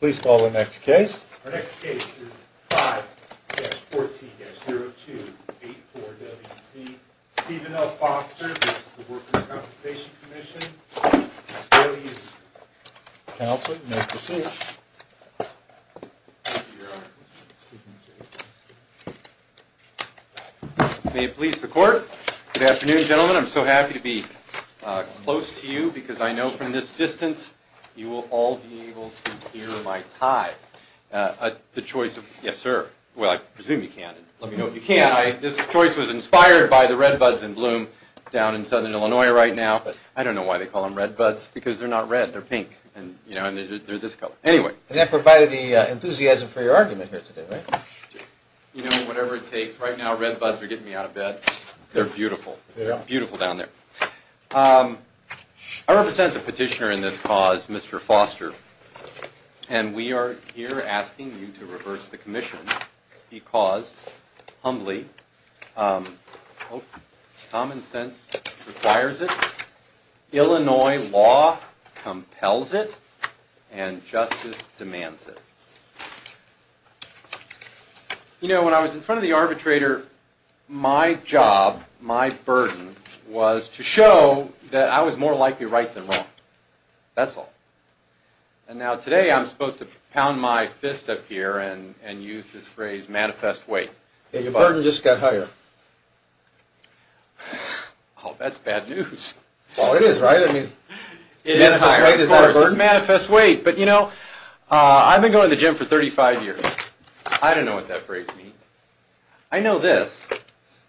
Please call the next case. Our next case is 5-14-02-84-WC. Stephen L. Foster with the Workers' Compensation Comm'n. May it please the court. Good afternoon, gentlemen. I'm so happy to be close to you because I know from this distance, you will all be able to hear my tie. The choice of... Yes, sir. Well, I presume you can. Let me know if you can. This choice was inspired by the red buds in bloom down in southern Illinois right now. But I don't know why they call them red buds, because they're not red, they're pink. And, you know, they're this color. Anyway. And that provided the enthusiasm for your argument here today, right? You know, whatever it takes. Right now, red buds are getting me out of bed. They're beautiful. They're beautiful down there. I represent the petitioner in this cause, Mr. Foster. And we are here asking you to reverse the commission, because humbly, common sense requires it. Illinois law compels it. And justice demands it. You know, when I was in front of the arbitrator, my job, my burden was to show that I was more likely right than wrong. That's all. And now today, I'm supposed to pound my fist up here and use this phrase, manifest weight. Yeah, your burden just got higher. Oh, that's bad news. Well, it is, right? I mean... I don't know what that phrase means. I know this.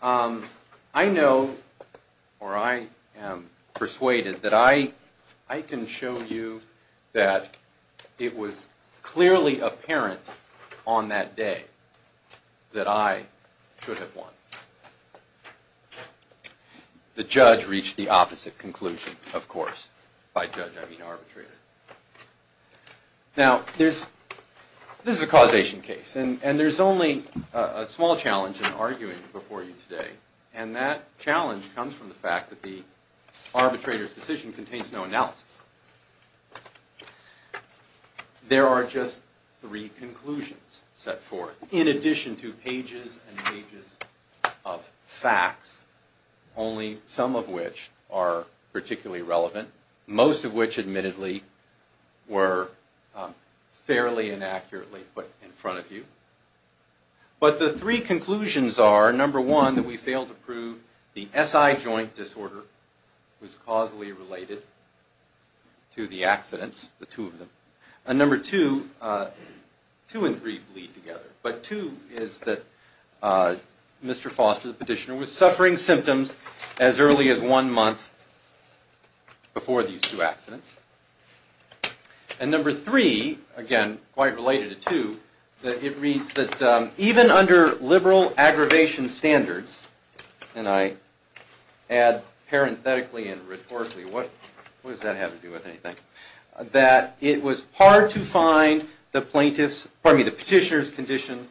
I know, or I am persuaded, that I can show you that it was clearly apparent on that day that I should have won. The judge reached the opposite conclusion, of course. By judge, I mean arbitrator. Now, this is a causation case, and there's only a small challenge in arguing before you today. And that challenge comes from the fact that the arbitrator's decision contains no analysis. There are just three conclusions set forth, in addition to pages and pages of facts, only some of which are were fairly inaccurately put in front of you. But the three conclusions are, number one, that we failed to prove the SI joint disorder was causally related to the accidents, the two of them. And number two, two and three bleed together. But two is that Mr. Foster, the petitioner, was suffering And number three, again, quite related to two, that it reads that even under liberal aggravation standards, and I add parenthetically and rhetorically, what does that have to do with anything? That it was hard to find the petitioner's condition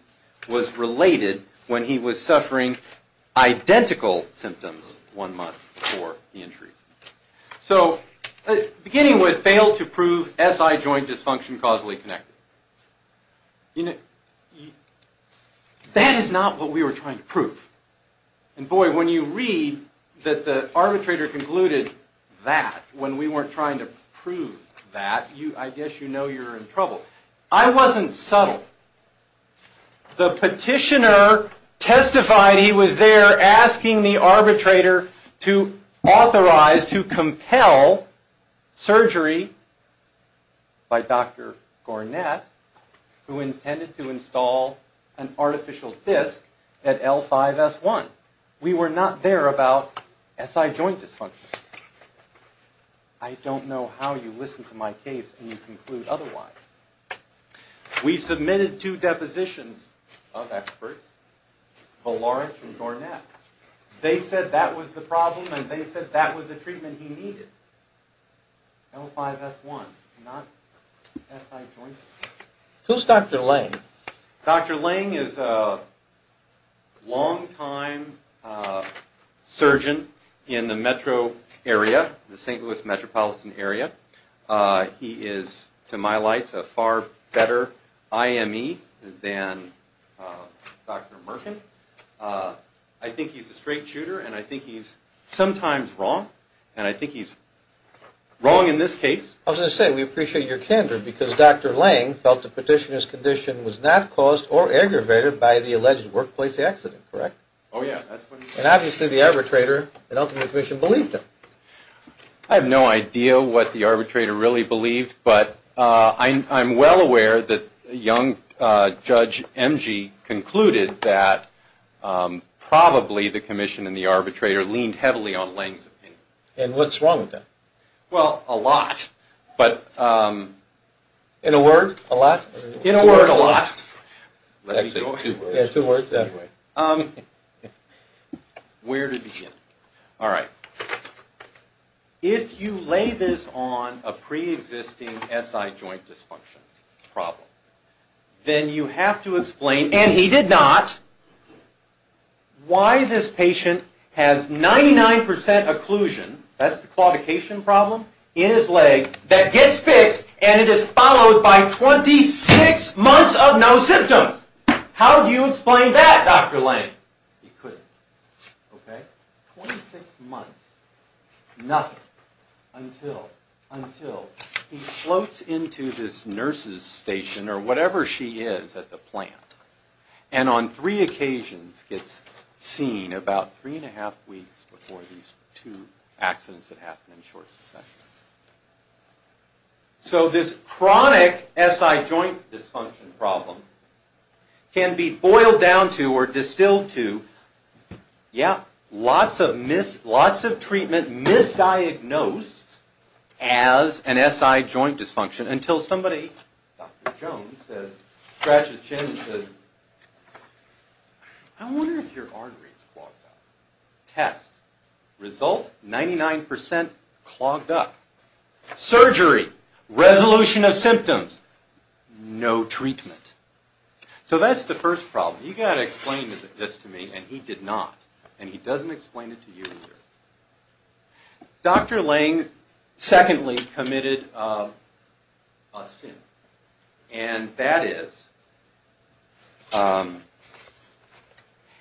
was related when he was suffering identical symptoms one month before the injury. So, beginning with failed to prove SI joint dysfunction causally connected. That is not what we were trying to prove. And boy, when you read that the arbitrator concluded that, when we weren't trying to prove that, I guess you know you're in trouble. I wasn't subtle. The petitioner testified he was there asking the arbitrator to authorize, to compel, surgery by Dr. Gornett, who intended to install an artificial disc at L5-S1. We were not there about SI joint dysfunction. I don't know how you listen to my case and you conclude otherwise. We submitted two depositions of experts, Valarich and Gornett. They said that was the problem and they said that was the treatment he needed. L5-S1, not SI joint. Who's Dr. Lange? Dr. Lange is a long-time surgeon in the metro area, the St. Louis metropolitan area. He is, to my lights, a far better IME than Dr. Merkin. I think he's a straight shooter and I think he's sometimes wrong. And I think he's wrong in this case. I was going to say, we appreciate your candor because Dr. Lange felt the petitioner's condition was not caused or aggravated by the alleged workplace accident, correct? Oh yeah, that's what he said. And obviously the arbitrator, and ultimately the commission, believed him. I have no idea what the arbitrator really believed, but I'm well aware that a young judge, M.G., concluded that probably the commission and the arbitrator leaned heavily on Lange's opinion. And what's wrong with that? Well, a lot. In a word? A lot? In a word, a lot. Let me go ahead. There's two words that way. Where to begin? All right. If you lay this on a pre-existing SI joint dysfunction problem, then you have to explain, and he did not, why this patient has 99% occlusion, that's the claudication problem, in his leg that gets fixed and it is followed by 26 months of no symptoms. How do you explain that, Dr. Lange? He couldn't. Okay? 26 months. Nothing. Until, until he floats into this nurse's station, or whatever she is at the plant, and on three occasions gets seen about three and a half weeks before these two accidents that happen in short succession. So this chronic SI joint dysfunction problem can be boiled down to, or distilled to, yeah, lots of treatment misdiagnosed as an SI joint dysfunction until somebody, Dr. Jones, says, scratches his chin and says, I wonder if your artery is clogged up. Test. Result? 99% clogged up. Surgery. Resolution of symptoms. No treatment. So that's the first problem. You've got to explain this to me, and he did not. And he doesn't explain it to you either. Dr. Lange, secondly, committed a sin. And that is,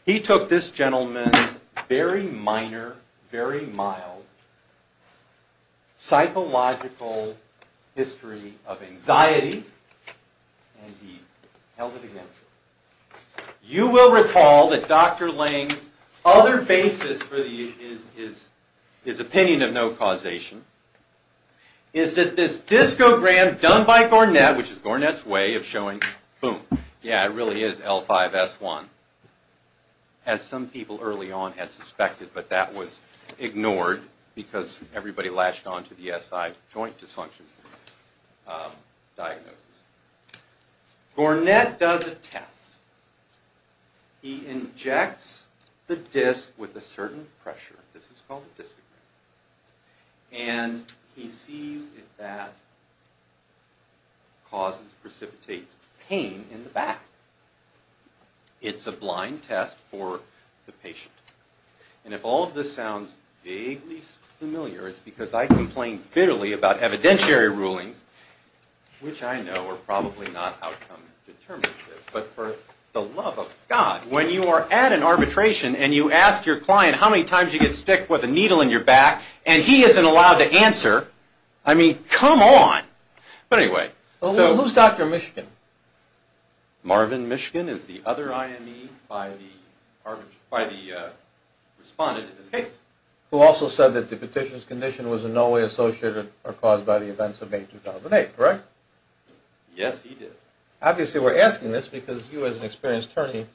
he took this gentleman's very minor, very mild, psychological history of anxiety, and he held it against him. You will recall that Dr. Lange's other basis for his opinion of no causation is that this discogram done by Gornett, which is Gornett's way of showing, boom, yeah, it really is L5-S1. As some people early on had suspected, but that was ignored because everybody latched onto the SI joint dysfunction diagnosis. Gornett does a test. He injects the disc with a certain pressure. This is called a discogram. And he sees if that causes, precipitates pain in the back. It's a blind test for the patient. And if all of this sounds vaguely familiar, it's because I complain bitterly about evidentiary rulings, which I know are probably not outcome determinative. But for the love of God, when you are at an arbitration and you ask your client how many times you get sticked with a needle in your back, and he isn't allowed to answer, I mean, come on. But anyway. Who's Dr. Mishkin? Marvin Mishkin is the other IME by the respondent in this case. Who also said that the petition's condition was in no way associated or caused by the events of May 2008, correct? Yes, he did. Obviously, we're asking this because you, as an experienced attorney,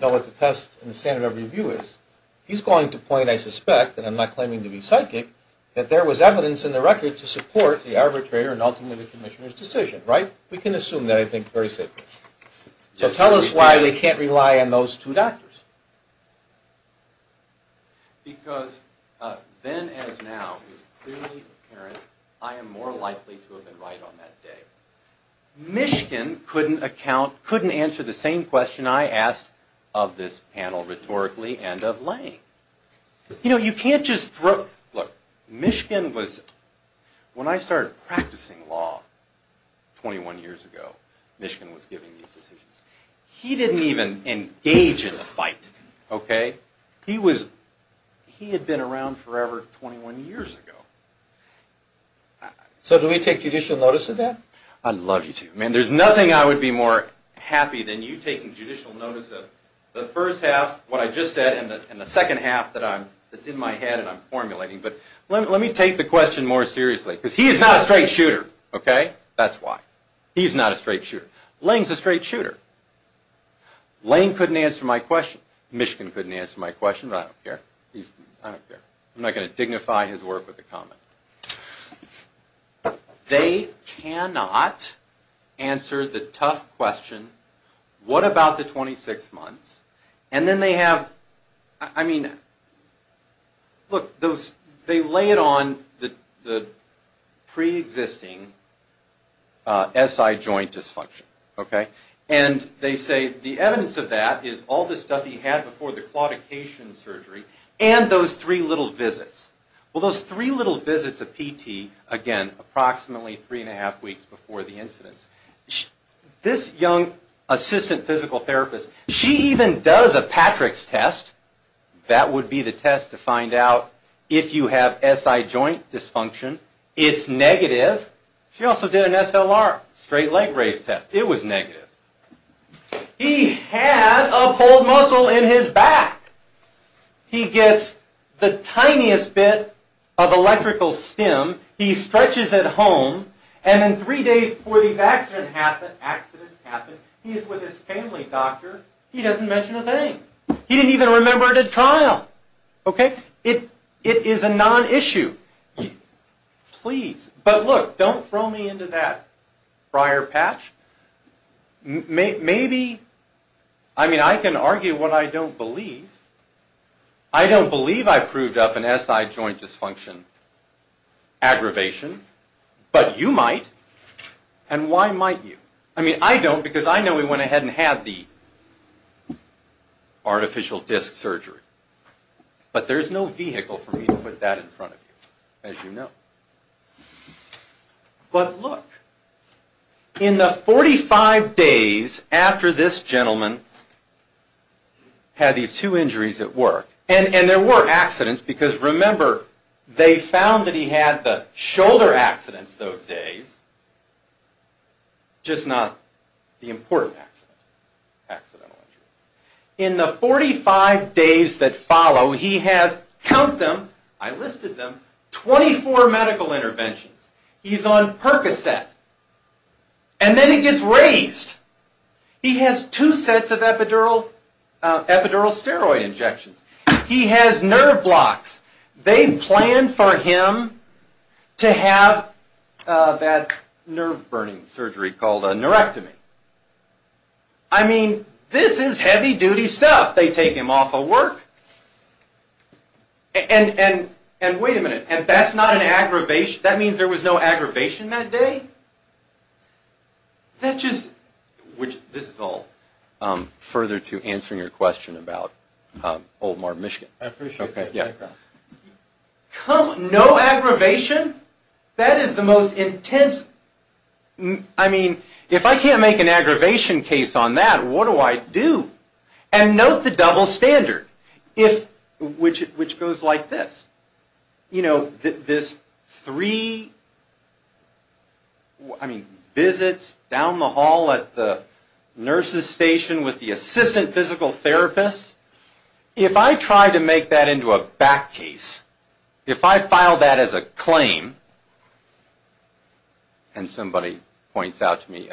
know what the test and the standard of review is. He's going to point, I suspect, and I'm not claiming to be psychic, that there was evidence in the record to support the arbitrator and ultimately the commissioner's decision, right? We can assume that, I think, very safely. So tell us why we can't rely on those two doctors. Because then as now, it's clearly apparent I am more likely to have been right on that day. Mishkin couldn't answer the same question I asked of this panel rhetorically and of Lange. You know, you can't just throw, look, Mishkin was, when I started practicing law 21 years ago, Mishkin was giving these decisions. He didn't even engage in the fight, okay? He was, he had been around forever 21 years ago. So do we take judicial notice of that? I'd love you to. Man, there's nothing I would be more happy than you taking judicial notice of the first half, what I just said, and the second half that's in my head and I'm formulating. But let me take the question more seriously, because he is not a straight shooter, okay? That's why. He's not a straight shooter. Lange's a straight shooter. Lange couldn't answer my question. Mishkin couldn't answer my question, but I don't care. I don't care. I'm not going to dignify his work with a comment. They cannot answer the tough question, what about the 26 months? And then they have, I mean, look, they lay it on the preexisting SI joint dysfunction, okay? And they say the evidence of that is all the stuff he had before the claudication surgery and those three little visits. Well, those three little visits of PT, again, approximately three and a half weeks before the incidents, this young assistant physical therapist, she even does a Patrick's test. That would be the test to find out if you have SI joint dysfunction. It's negative. She also did an SLR, straight leg raise test. It was negative. He had a pulled muscle in his back. He gets the tiniest bit of electrical stim. He stretches at home, and then three days before these accidents happen, he's with his family doctor. He doesn't mention a thing. He didn't even remember a trial, okay? It is a non-issue. Please, but look, don't throw me into that prior patch. Maybe, I mean, I can argue what I don't believe. I don't believe I proved up an SI joint dysfunction aggravation, but you might, and why might you? I mean, I don't because I know he went ahead and had the artificial disc surgery, but there's no vehicle for me to put that in front of you, as you know. But look, in the 45 days after this gentleman had these two injuries at work, and there were accidents because, remember, they found that he had the shoulder accidents those days, just not the important accidents, accidental injuries. In the 45 days that follow, he has, count them, I listed them, 24 medical interventions. He's on Percocet, and then he gets raised. He has two sets of epidural steroid injections. He has nerve blocks. They planned for him to have that nerve-burning surgery called a nerectomy. I mean, this is heavy-duty stuff. They take him off of work, and wait a minute, and that's not an aggravation? That means there was no aggravation that day? That just, which, this is all further to answering your question about Old Martin, Michigan. I appreciate that background. No aggravation? That is the most intense, I mean, if I can't make an aggravation case on that, what do I do? And note the double standard, which goes like this. You know, this three visits down the hall at the nurse's station with the assistant physical therapist, if I try to make that into a back case, if I file that as a claim, and somebody points out to me,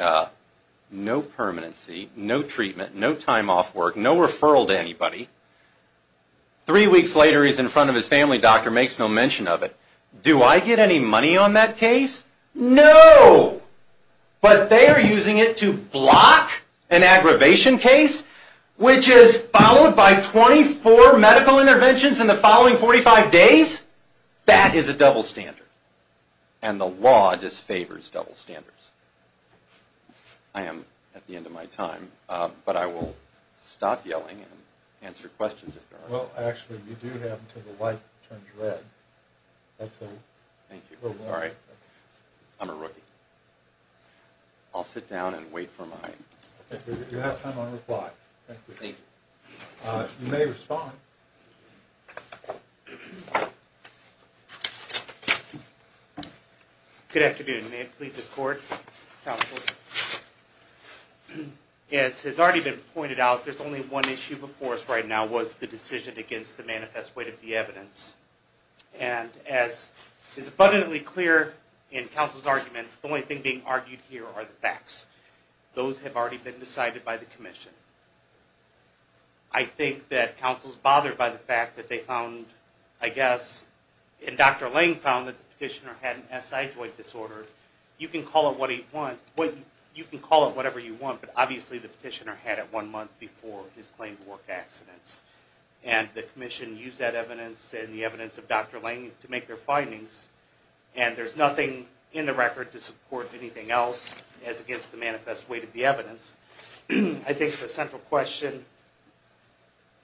no permanency, no treatment, no time off work, no referral to anybody, three weeks later he's in front of his family doctor, makes no mention of it, do I get any money on that case? No! But they are using it to block an aggravation case, which is followed by 24 medical interventions in the following 45 days? That is a double standard. And the law disfavors double standards. I am at the end of my time, but I will stop yelling and answer questions if there are any. Well, actually, we do have until the light turns red. Thank you. All right. I'm a rookie. I'll sit down and wait for my... You have time on reply. Thank you. You may respond. Good afternoon. May it please the court, counsel. As has already been pointed out, there's only one issue before us right now, was the decision against the manifest weight of the evidence. And as is abundantly clear in counsel's argument, the only thing being argued here are the facts. Those have already been decided by the commission. I think that counsel's bothered by the fact that they found, I guess, and Dr. Lange found that the petitioner had an SI joint disorder. You can call it whatever you want, but obviously the petitioner had it one month before his claim to work accidents. And the commission used that evidence and the evidence of Dr. Lange to make their findings. And there's nothing in the record to support anything else as against the manifest weight of the evidence. I think the central question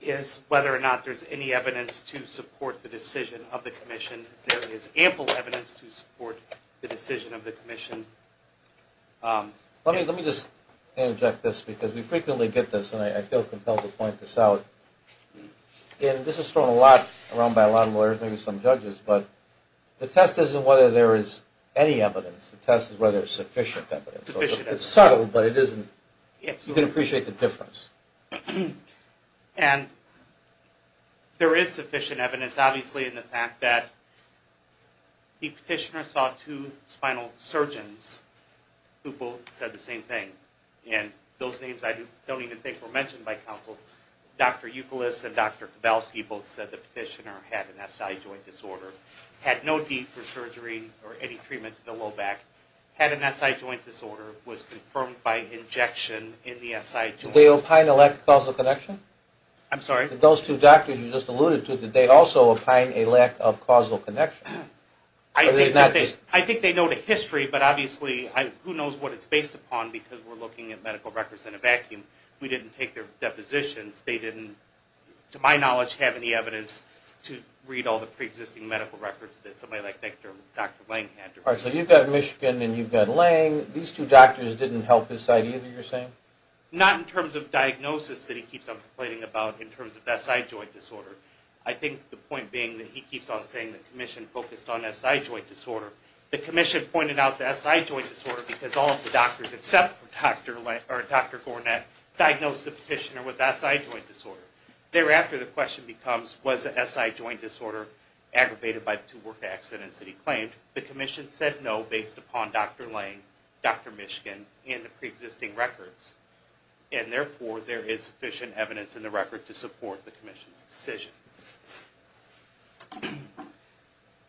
is whether or not there's any evidence to support the decision of the commission. There is ample evidence to support the decision of the commission. Let me just interject this because we frequently get this, and I feel compelled to point this out. And this is thrown around by a lot of lawyers and some judges, but the test isn't whether there is any evidence. The test is whether there's sufficient evidence. It's subtle, but you can appreciate the difference. And there is sufficient evidence, obviously, in the fact that the petitioner saw two spinal surgeons who both said the same thing. And those names I don't even think were mentioned by counsel. Dr. Ukulis and Dr. Kowalski both said the petitioner had an SI joint disorder, had no need for surgery or any treatment to the low back, had an SI joint disorder, was confirmed by injection in the SI joint. Did they opine a lack of causal connection? I'm sorry? Did those two doctors you just alluded to, did they also opine a lack of causal connection? I think they know the history, but obviously who knows what it's based upon because we're looking at medical records in a vacuum. We didn't take their depositions. They didn't, to my knowledge, have any evidence to read all the preexisting medical records that somebody like Dr. Lange had. All right, so you've got Michigan and you've got Lange. These two doctors didn't help his side either, you're saying? Not in terms of diagnosis that he keeps on complaining about in terms of SI joint disorder. I think the point being that he keeps on saying the commission focused on SI joint disorder. The commission pointed out the SI joint disorder because all of the doctors except for Dr. Lange or Dr. Gornet diagnosed the petitioner with SI joint disorder. Thereafter the question becomes, was the SI joint disorder aggravated by the two work accidents that he claimed? The commission said no based upon Dr. Lange, Dr. Michigan, and the preexisting records, and therefore there is sufficient evidence in the record to support the commission's decision.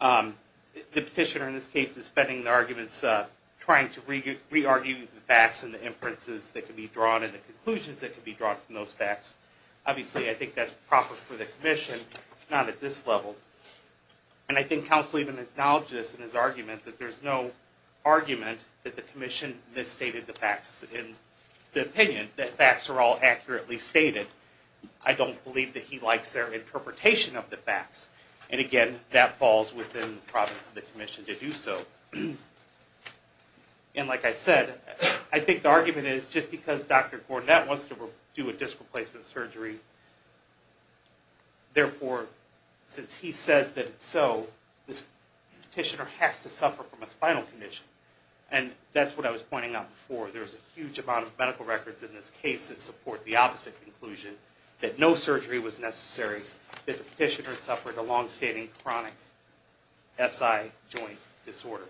The petitioner in this case is spending the arguments trying to re-argue the facts and the inferences that can be drawn and the conclusions that can be drawn from those facts. Obviously I think that's proper for the commission, not at this level. And I think counsel even acknowledged this in his argument that there's no argument that the commission misstated the facts in the opinion, that facts are all accurately stated. I don't believe that he likes their interpretation of the facts. And again, that falls within the province of the commission to do so. And like I said, I think the argument is just because Dr. Gornet wants to do a disc replacement surgery, therefore since he says that it's so, this petitioner has to suffer from a spinal condition. And that's what I was pointing out before. There's a huge amount of medical records in this case that support the opposite conclusion, that no surgery was necessary, that the petitioner suffered a long-standing chronic SI joint disorder.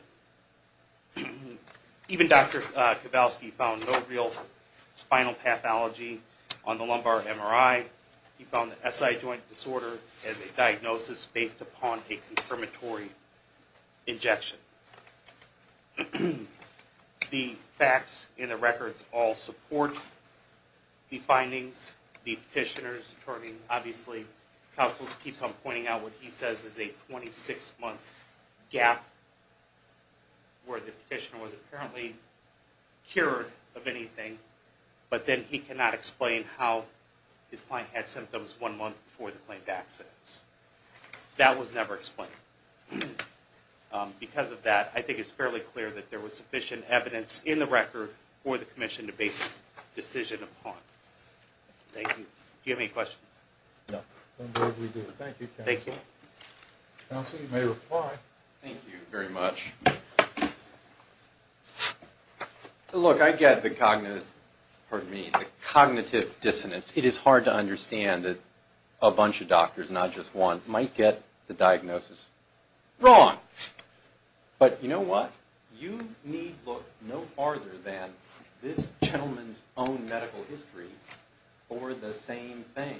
Even Dr. Kowalski found no real spinal pathology on the lumbar MRI. He found the SI joint disorder as a diagnosis based upon a confirmatory injection. The facts in the records all support the findings. The petitioner's attorney, obviously, counsel keeps on pointing out what he says is a 26-month gap where the petitioner was apparently cured of anything, but then he cannot explain how his client had symptoms one month before the claimed accidents. That was never explained. Because of that, I think it's fairly clear that there was sufficient evidence in the record for the commission to base this decision upon. Thank you. Do you have any questions? No. Thank you, counsel. Counsel, you may reply. Thank you very much. Look, I get the cognitive dissonance. It is hard to understand that a bunch of doctors, not just one, might get the diagnosis wrong. But you know what? You need look no farther than this gentleman's own medical history for the same thing.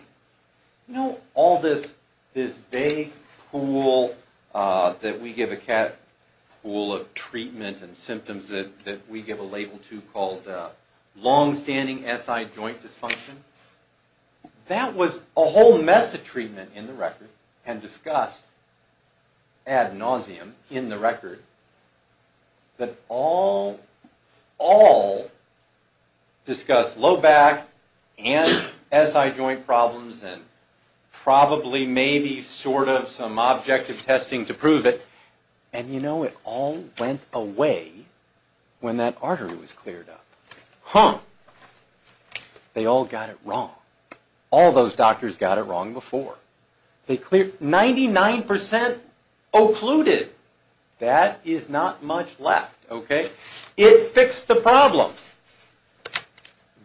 You know all this vague pool that we give a cat pool of treatment and symptoms that we give a label to called long-standing SI joint dysfunction, that was a whole mess of treatment in the record and discussed ad nauseum in the record that all discussed low back and SI joint problems and probably, maybe, sort of some objective testing to prove it. And you know, it all went away when that artery was cleared up. Huh. They all got it wrong. All those doctors got it wrong before. 99% occluded. That is not much left, okay? It fixed the problem.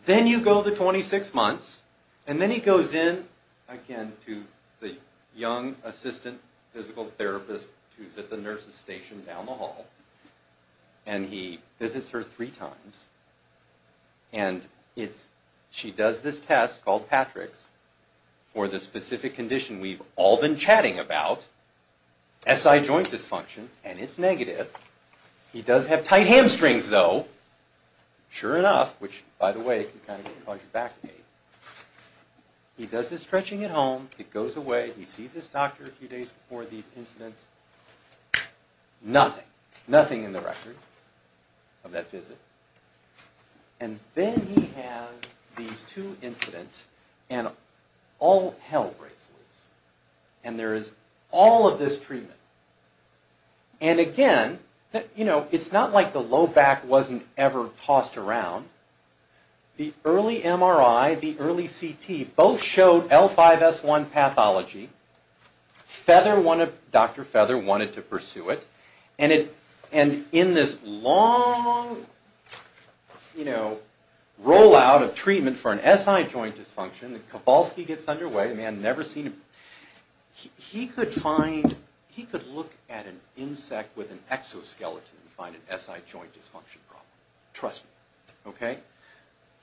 Then you go the 26 months. And then he goes in, again, to the young assistant physical therapist who is at the nurse's station down the hall. And he visits her three times. And she does this test called PATRIX for the specific condition we've all been chatting about, SI joint dysfunction, and it's negative. He does have tight hamstrings, though. Sure enough, which, by the way, can kind of cause your back pain. He does his stretching at home. It goes away. He sees his doctor a few days before these incidents. Nothing. Nothing in the record of that visit. And then he has these two incidents, and all hell breaks loose. And there is all of this treatment. And again, you know, it's not like the low back wasn't ever tossed around. The early MRI, the early CT, both showed L5-S1 pathology. Dr. Feather wanted to pursue it. And in this long, you know, rollout of treatment for an SI joint dysfunction, and the Kowalski gets underway, the man had never seen him, he could find, he could look at an insect with an exoskeleton and find an SI joint dysfunction problem. Trust me. Okay?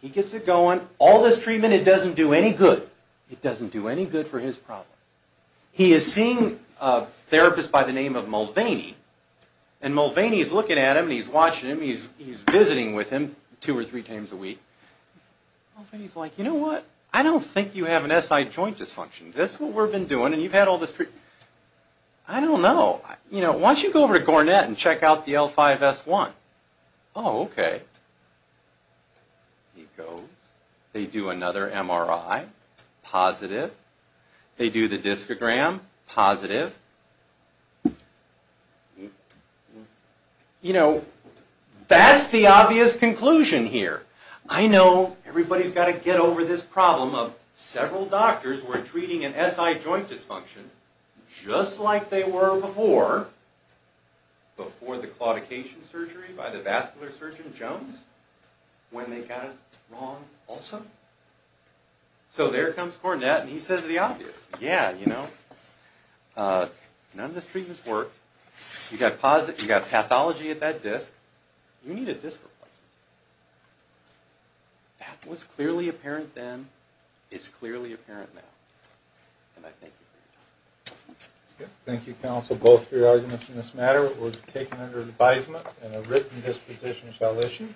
He gets it going. All this treatment, it doesn't do any good. It doesn't do any good for his problem. He is seeing a therapist by the name of Mulvaney, and Mulvaney is looking at him, and he's watching him. He's visiting with him two or three times a week. Mulvaney is like, you know what? I don't think you have an SI joint dysfunction. That's what we've been doing, and you've had all this treatment. I don't know. You know, why don't you go over to Gornet and check out the L5-S1? Oh, okay. He goes. They do another MRI. Positive. They do the discogram. Positive. You know, that's the obvious conclusion here. I know everybody's got to get over this problem of several doctors who are treating an SI joint dysfunction just like they were before, before the claudication surgery by the vascular surgeon Jones, when they got it wrong also. So there comes Gornet, and he says the obvious. Yeah, you know, none of this treatment's worked. You've got pathology at that disc. You need a disc replacement. That was clearly apparent then. It's clearly apparent now. And I thank you for your time. Thank you, counsel. Both of your arguments in this matter were taken under advisement and a written disposition shall issue.